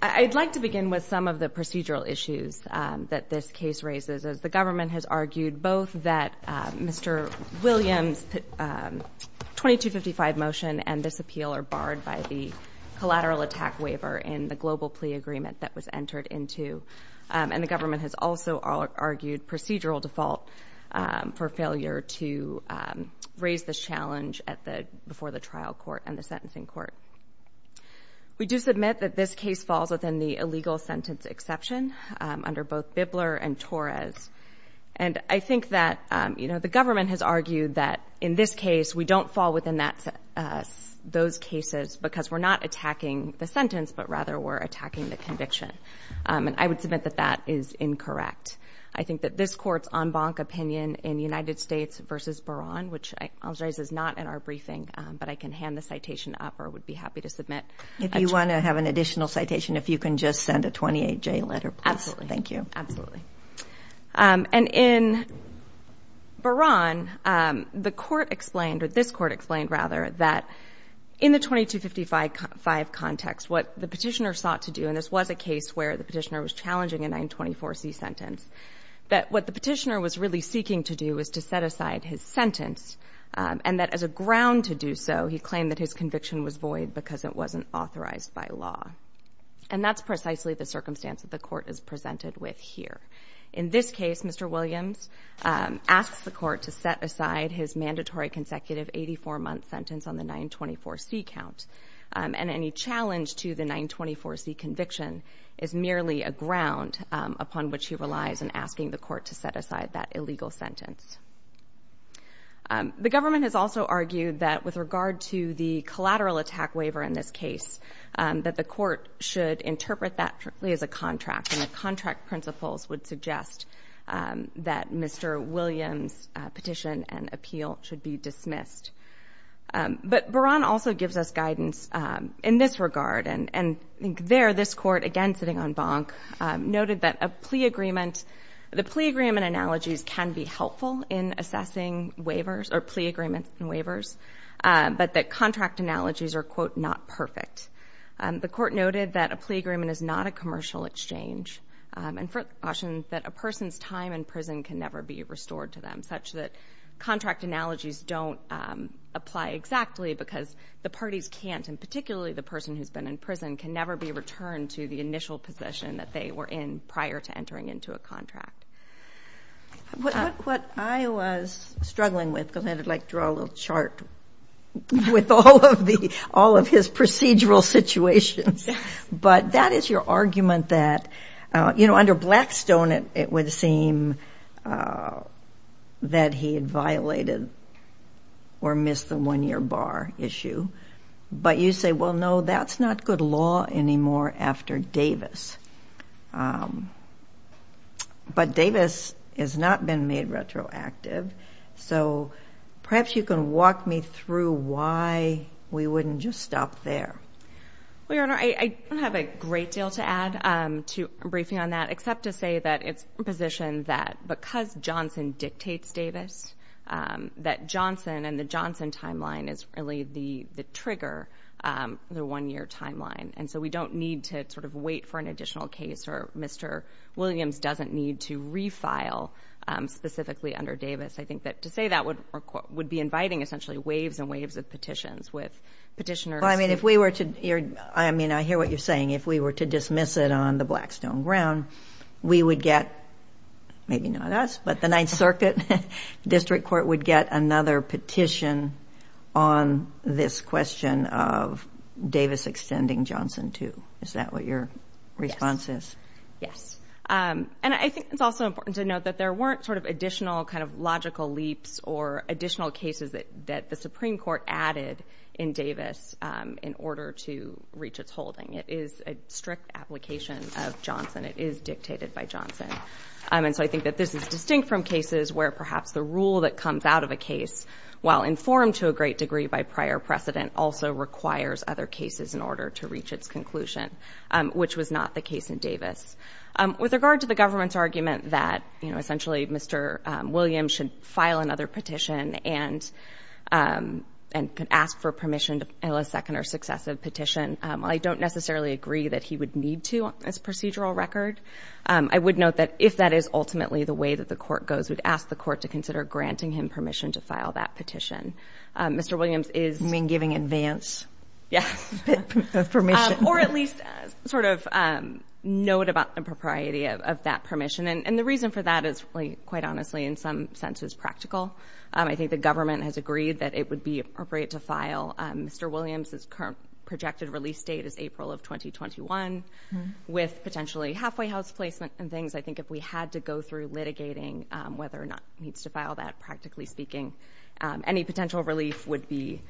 I would like to begin with some of the procedural issues that this case raises as the government has argued both that Mr. Williams 2255 motion and this appeal are barred by the collateral attack waiver in the global plea agreement that was entered into and the government has also argued procedural default for failure to raise this challenge at the before the trial court and the sentencing court. We do submit that this case falls within the illegal sentence exception under both Bibler and Torres and I think that you know the government has argued that in this case we don't fall within that those cases because we're not attacking the sentence but rather we're attacking the conviction and I would submit that that is incorrect. I think that this court's en banc opinion in the United States versus Beran which I was raised is not in our briefing but I can hand the citation up or would be happy to submit. If you want to have an additional citation if you can just send a 28-J letter. Absolutely. Thank you. Absolutely. And in Beran the court explained or this court explained rather that in the 2255 context what the petitioner sought to do and this was a case where the petitioner was challenging a 924C sentence that what the petitioner was really seeking to do is to set aside his sentence and that as a ground to do so he claimed that his conviction was void because it wasn't authorized by law. And that's precisely the circumstance that the court is presented with here. In this case Mr. Williams asks the court to set aside his mandatory consecutive 84-month sentence on the 924C count and any challenge to the 924C conviction is merely a ground upon which he relies in asking the court to set aside that illegal sentence. The government has also argued that with regard to the collateral attack waiver in this case that the court should interpret that as a contract and the contract principles would suggest that Mr. Williams' petition and appeal should be dismissed. But Beran also gives us guidance in this regard and I think there this court again sitting on bonk noted that a plea agreement, the plea agreement analogies can be helpful in assessing waivers or plea agreements and waivers but that contract analogies are quote not perfect. The court noted that a plea agreement is not a commercial exchange and for caution that a person's time in prison can never be restored to them such that contract analogies don't apply exactly because the parties can't and particularly the person who's been in prison can never be returned to the initial position that they were in prior to entering into a contract. What I was struggling with because I'd like to draw a little chart with all of his procedural situations but that is your argument that you know under Blackstone it would seem that he had violated or missed the one year bar issue but you say well no that's not good law anymore after Davis. But Davis has not been made retroactive so perhaps you can walk me through why we wouldn't just stop there. Well your honor I don't have a great deal to add to a briefing on that except to say that it's a position that because Johnson dictates Davis that Johnson and the Johnson year timeline and so we don't need to sort of wait for an additional case or Mr. Williams doesn't need to refile specifically under Davis. I think that to say that would be inviting essentially waves and waves of petitions with petitioners. I mean if we were to I mean I hear what you're saying if we were to dismiss it on the Blackstone ground we would get maybe not us but the Ninth Circuit District Court would get another petition on this question of Davis extending Johnson too. Is that what your response is? Yes and I think it's also important to note that there weren't sort of additional kind of logical leaps or additional cases that the Supreme Court added in Davis in order to reach its holding. It is a strict application of Johnson. It is dictated by Johnson and so I think that this is distinct from cases where perhaps the rule that comes out of a case while informed to a great degree by prior precedent also requires other cases in order to reach its conclusion which was not the case in Davis. With regard to the government's argument that you know essentially Mr. Williams should file another petition and could ask for permission to a second or successive petition I don't necessarily agree that he would need to on this procedural record. I would note that if that is ultimately the way that the court goes we'd ask the court to consider granting him permission to file that petition. Mr. Williams is... You mean giving advance? Yes. Permission. Or at least sort of note about the propriety of that permission and the reason for that is quite honestly in some sense is practical. I think the government has agreed that it would be appropriate to file Mr. Williams's current projected release date is April of 2021 with potentially halfway house placement and things I think if we had to go through litigating whether or not he needs to file that practically speaking any potential relief would be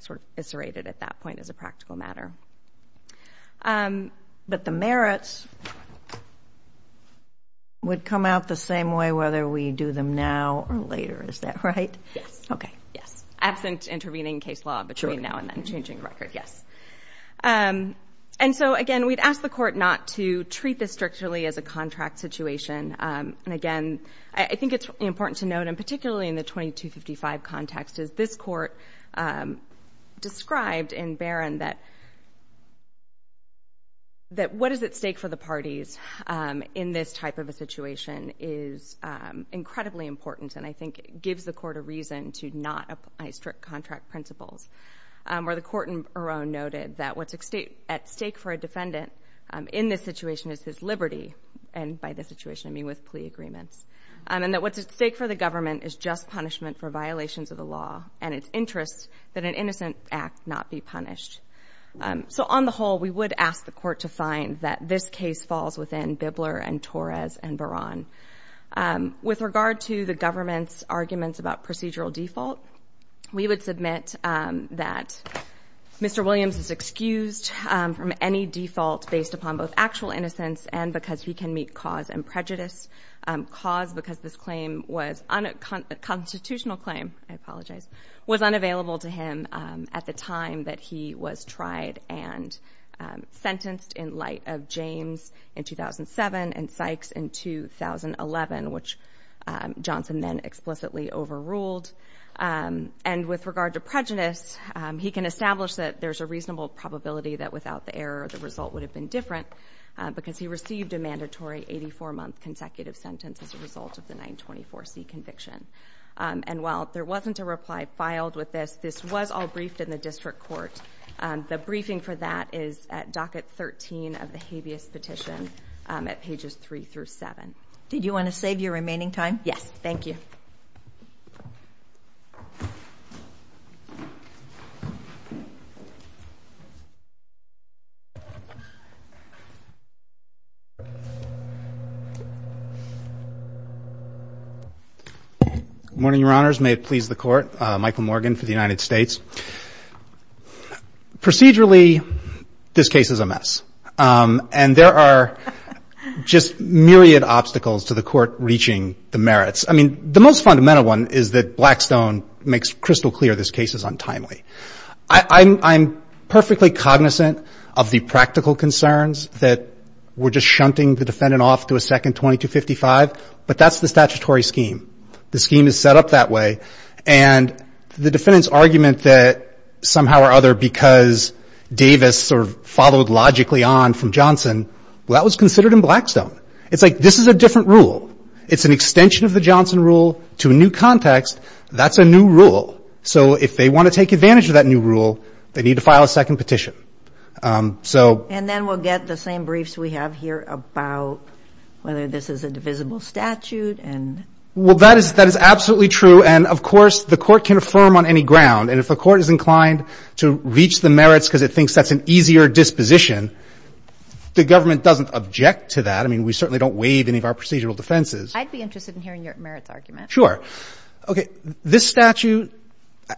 sort of serrated at that point as a practical matter. But the merits would come out the same way whether we do them now or later is that right? Yes. Okay. Yes. Absent intervening case law between now and then changing the record yes. And so again we'd ask the court not to treat this strictly as a contract situation and again I think it's important to note and particularly in the 2255 context is this court described in Barron that what is at stake for the parties in this type of a situation is incredibly important and I think it gives the court a reason to not apply strict contract principles where the court in Barron noted that what's at stake for a defendant in this situation is his liberty and by the situation I mean with plea agreements and that what's at stake for the government is just punishment for violations of the law and it's interest that an innocent act not be punished. So on the whole we would ask the court to find that this case falls within Bibler and Torres and Barron. With regard to the government's arguments about procedural default we would submit that Mr. Williams is excused from any default based upon both actual innocence and because he can meet cause and prejudice. Cause because this claim was a constitutional claim I apologize was unavailable to him at the time that he was tried and sentenced in light of James in 2007 and Sykes in 2011 which Johnson then explicitly overruled. And with regard to prejudice he can establish that there's a reasonable probability that without the error the result would have been different because he received a mandatory 84 month consecutive sentence as a result of the 924C conviction. And while there wasn't a reply filed with this, this was all briefed in the district court. The briefing for that is at docket 13 of the habeas petition at pages 3 through 7. Did you want to save your remaining time? Yes. Thank you. Good morning, your honors. May it please the court. Michael Morgan for the United States. Procedurally this case is a mess and there are just myriad obstacles to the court reaching the merits. I mean the most fundamental one is that Blackstone makes crystal clear this case is untimely. I'm perfectly cognizant of the practical concerns that we're just shunting the defendant off to a second 2255 but that's the statutory scheme. The scheme is set up that way and the defendant's argument that somehow or other because Davis sort of followed logically on from Johnson, well that was considered in Blackstone. It's like this is a different rule. It's an extension of the Johnson rule to a new context. That's a new rule. So if they want to take advantage of that new rule they need to file a second petition. And then we'll get the same briefs we have here about whether this is a divisible statute and... Well that is that is absolutely true and of course the court can affirm on any ground and if the court is inclined to reach the merits because it thinks that's an easier disposition the government doesn't object to that. I mean we certainly don't waive any of our procedural defenses. I'd be interested in hearing your merits argument. Sure. Okay this statute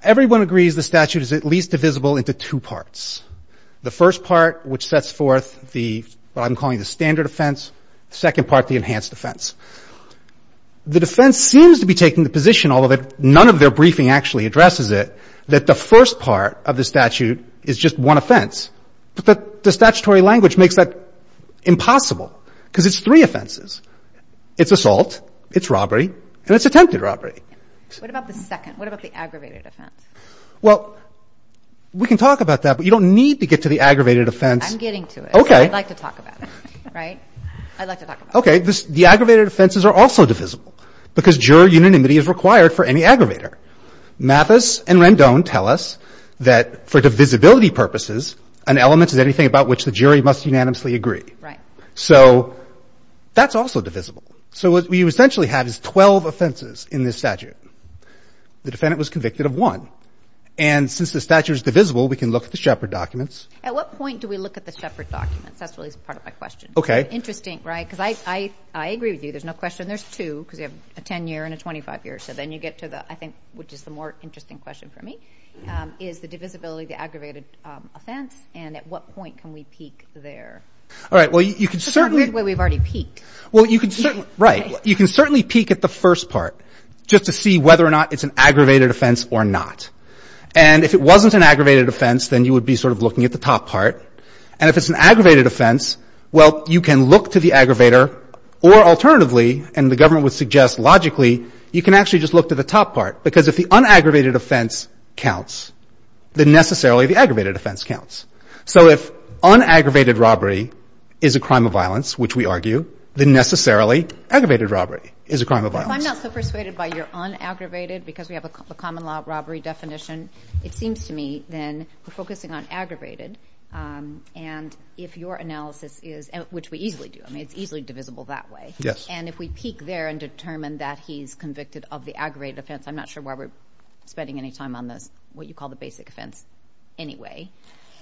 everyone agrees the statute is at least divisible into two parts. The first part which sets forth the what I'm calling the standard offense. Second part the enhanced offense. The defense seems to be taking the position although that none of their briefing actually addresses it that the first part of the statute is just one offense but that the statutory language makes that impossible because it's three offenses. It's assault, it's robbery, and it's attempted robbery. What about the second? What about the aggravated offense? Well we can talk about that but you don't need to get to the aggravated offense. I'm getting to it. Okay. I'd like to talk about it, right? I'd like to talk about it. The aggravated offenses are also divisible because juror unanimity is required for any aggravator. Mathis and Rendon tell us that for divisibility purposes an element is anything about which the jury must unanimously agree. Right. So that's also divisible. So what we essentially have is 12 offenses in this statute. The defendant was convicted of one. And since the statute is divisible we can look at the Shepard documents. At what point do we look at the Shepard documents? That's really part of my question. Okay. Interesting, right? Because I agree with you. There's no question. There's two because you have a 10 year and a 25 year. So then you get to the, I think, which is the more interesting question for me, is the divisibility, the aggravated offense. And at what point can we peak there? All right. Well you can certainly... It's not the way we've already peaked. Well you can certainly... Right. You can certainly peak at the first part just to see whether or not it's an aggravated offense or not. And if it wasn't an aggravated offense then you would be sort of looking at the top part. And if it's an aggravated offense, well you can look to the aggravator or alternatively, and the government would suggest logically, you can actually just look to the top part. Because if the unaggravated offense counts, then necessarily the aggravated offense counts. So if unaggravated robbery is a crime of violence, which we argue, then necessarily aggravated robbery is a crime of violence. I'm not so persuaded by your unaggravated because we have a common law robbery definition. It seems to me then we're focusing on aggravated and if your analysis is, which we easily do, I mean it's easily divisible that way. Yes. And if we peak there and determine that he's convicted of the aggravated offense, I'm not sure why we're spending any time on this, what you call the basic offense anyway.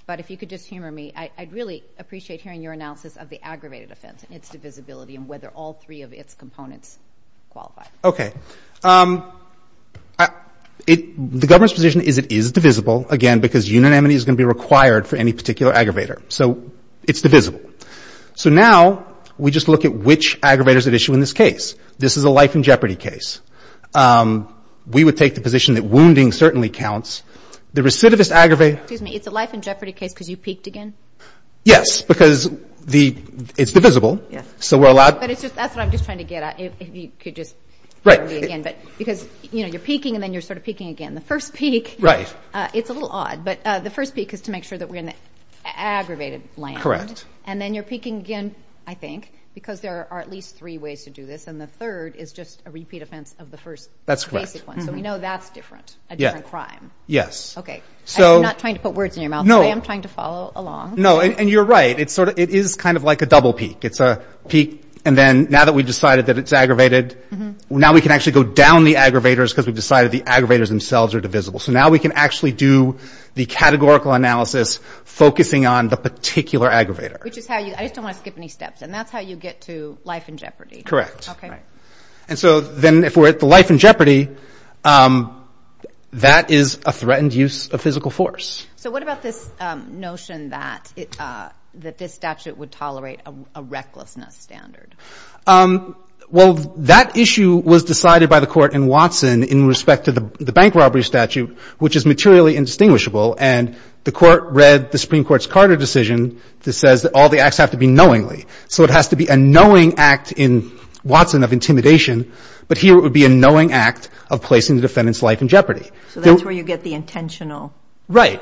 But if you could just humor me, I'd really appreciate hearing your analysis of the aggravated offense and its divisibility and whether all three of its components qualify. Okay. The government's position is it is divisible, again, because unanimity is going to be required for any particular aggravator. So it's divisible. So now we just look at which aggravators at issue in this case. This is a life in jeopardy case. We would take the position that wounding certainly counts. The recidivist aggravated- Excuse me. It's a life in jeopardy case because you peaked again? Yes, because it's divisible. So we're allowed- But it's just, that's what I'm just trying to get at. If you could just- Right. Again, because you're peaking and then you're sort of peaking again. The first peak- Right. It's a little odd, but the first peak is to make sure that we're in the aggravated land. Correct. And then you're peaking again, I think, because there are at least three ways to do this. And the third is just a repeat offense of the first basic one. So we know that's different, a different crime. Yes. Okay. So- I'm not trying to put words in your mouth. No. I am trying to follow along. No, and you're right. It's sort of, it is kind of like a double peak. It's a peak, and then now that we've decided that it's aggravated, now we can actually go down the aggravators because we've decided the aggravators themselves are divisible. So now we can actually do the categorical analysis focusing on the particular aggravator. Which is how you- I just don't want to skip any steps. And that's how you get to life in jeopardy. Correct. Okay. Right. And so then if we're at the life in jeopardy, that is a threatened use of physical force. So what about this notion that this statute would tolerate a recklessness standard? Well, that issue was decided by the court in Watson in respect to the bank robbery statute, which is materially indistinguishable. And the court read the Supreme Court's Carter decision that says that all the acts have to be knowingly. So it has to be a knowing act in Watson of intimidation. But here it would be a knowing act of placing the defendant's life in jeopardy. So that's where you get the intentional- Right.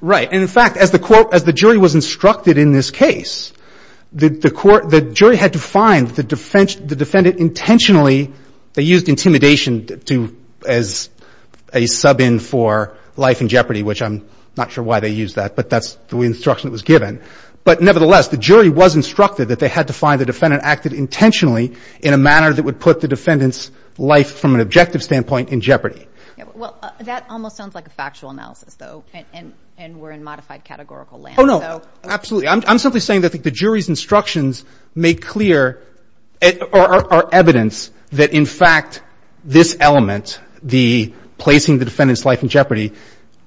Right. And in fact, as the jury was instructed in this case, the jury had to find the defendant intentionally- they used intimidation as a sub-in for life in jeopardy, which I'm not sure why they used that. But that's the instruction that was given. But nevertheless, the jury was instructed that they had to find the defendant acted intentionally in a manner that would put the defendant's life from an objective standpoint in jeopardy. Well, that almost sounds like a factual analysis, though, and we're in modified categorical land. Oh, no, absolutely. I'm simply saying that the jury's instructions make clear or are evidence that, in fact, this element, the placing the defendant's life in jeopardy,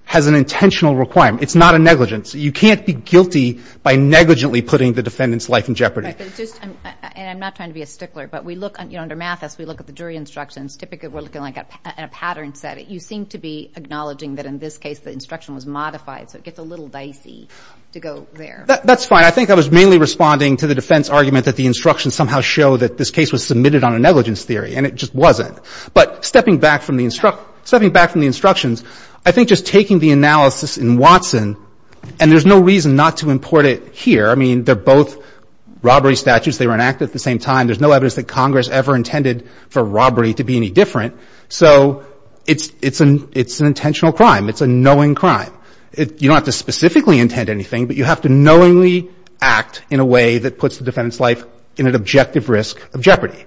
has an intentional requirement. It's not a negligence. You can't be guilty by negligently putting the defendant's life in jeopardy. And I'm not trying to be a stickler, but we look under math as we look at the jury instructions. Typically, we're looking at a pattern set. You seem to be acknowledging that, in this case, the instruction was modified, so it gets a little dicey to go there. That's fine. I think I was mainly responding to the defense argument that the instructions somehow show that this case was submitted on a negligence theory, and it just wasn't. But stepping back from the instructions, I think just taking the analysis in Watson, and there's no reason not to import it here. I mean, they're both robbery statutes. They were enacted at the same time. There's no evidence that Congress ever intended for robbery to be any different. So it's an intentional crime. It's a knowing crime. You don't have to specifically intend anything, but you have to knowingly act in a way that puts the defendant's life in an objective risk of jeopardy.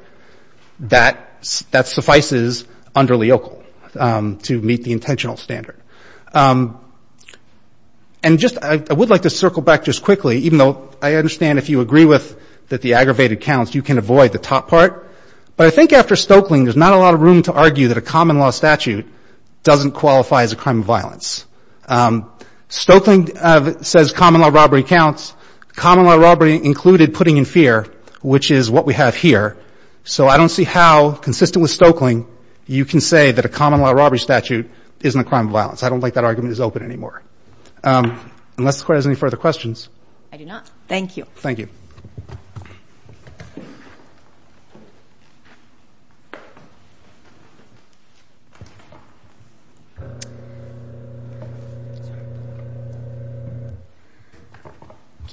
That suffices under Leocal to meet the intentional standard. And just I would like to circle back just quickly, even though I understand if you agree with that the aggravated counts, you can avoid the top part. But I think after Stoeckling, there's not a lot of room to argue that a common law statute doesn't qualify as a crime of violence. Stoeckling says common law robbery counts. Common law robbery included putting in fear, which is what we have here. So I don't see how, consistent with Stoeckling, you can say that a common law robbery statute isn't a crime of violence. I don't think that argument is open anymore. Unless the Court has any further questions. I do not. Thank you. Thank you.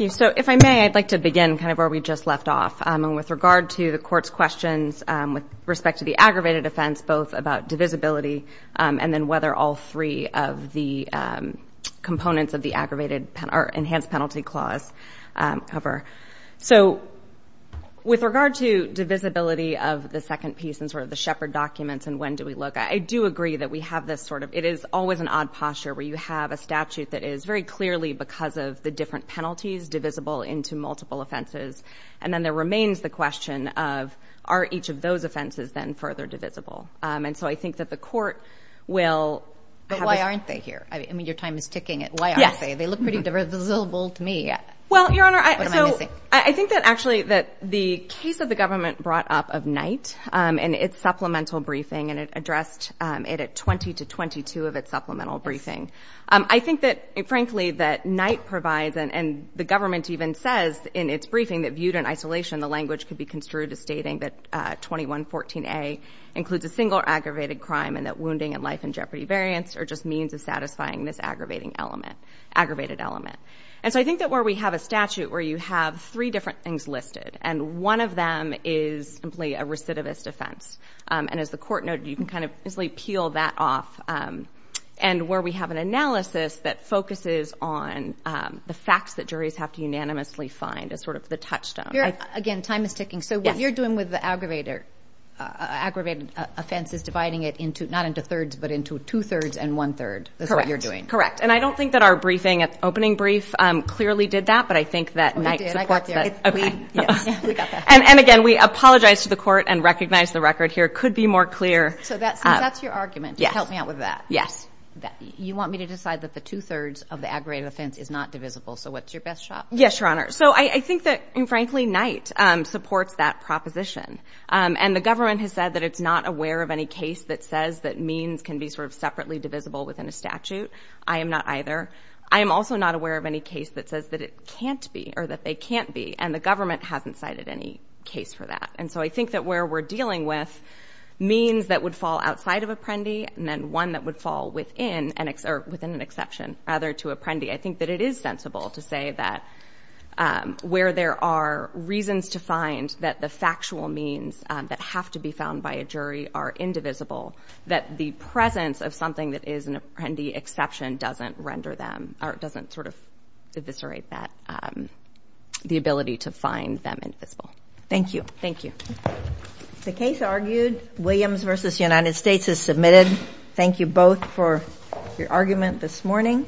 So if I may, I'd like to begin kind of where we just left off. With regard to the Court's questions with respect to the aggravated offense, both about divisibility and then whether all three of the components of the aggravated or enhanced penalty clause cover. So with regard to divisibility of the second piece and sort of the Shepard documents and when do we look, I do agree that we have this sort of, it is always an odd posture where you have a statute that is very clearly, because of the different penalties, divisible into multiple offenses. And then there remains the question of, are each of those offenses then further divisible? And so I think that the Court will. But why aren't they here? I mean, your time is ticking. Why aren't they? They look pretty divisible to me. Well, Your Honor, I think that actually that the case of the government brought up of Knight and its supplemental briefing and it addressed it at 20 to 22 of its supplemental briefing. I think that, frankly, that Knight provides and the government even says in its briefing that viewed in isolation, the language could be construed as stating that 2114A includes a single aggravated crime and that wounding and life and jeopardy variants are just means of satisfying this aggravating element. Aggravated element. And so I think that where we have a statute where you have three different things listed and one of them is simply a recidivist offense. And as the Court noted, you can kind of easily peel that off. And where we have an analysis that focuses on the facts that juries have to unanimously find as sort of the touchstone. Again, time is ticking. So what you're doing with the aggravated offense is dividing it into, not into thirds, but into two thirds and one third. That's what you're doing. Correct. And I don't think that our briefing, opening brief, clearly did that. But I think that Knight supports that. We did. I got that. And again, we apologize to the Court and recognize the record here could be more clear. So that's your argument. Help me out with that. Yes. You want me to decide that the two thirds of the aggravated offense is not divisible. So what's your best shot? Yes, Your Honor. So I think that, frankly, Knight supports that proposition. And the government has said that it's not aware of any case that says that means can be sort of separately divisible within a statute. I am not either. I am also not aware of any case that says that it can't be or that they can't be. And the government hasn't cited any case for that. And so I think that where we're dealing with means that would fall outside of apprendi and then one that would fall within an exception, rather to apprendi. I think that it is sensible to say that where there are reasons to find that the factual means that have to be found by a jury are indivisible, that the presence of something that is an apprendi exception doesn't render them or doesn't sort of eviscerate that the ability to find them invisible. Thank you. Thank you. The case argued, Williams versus United States is submitted. Thank you both for your argument this morning.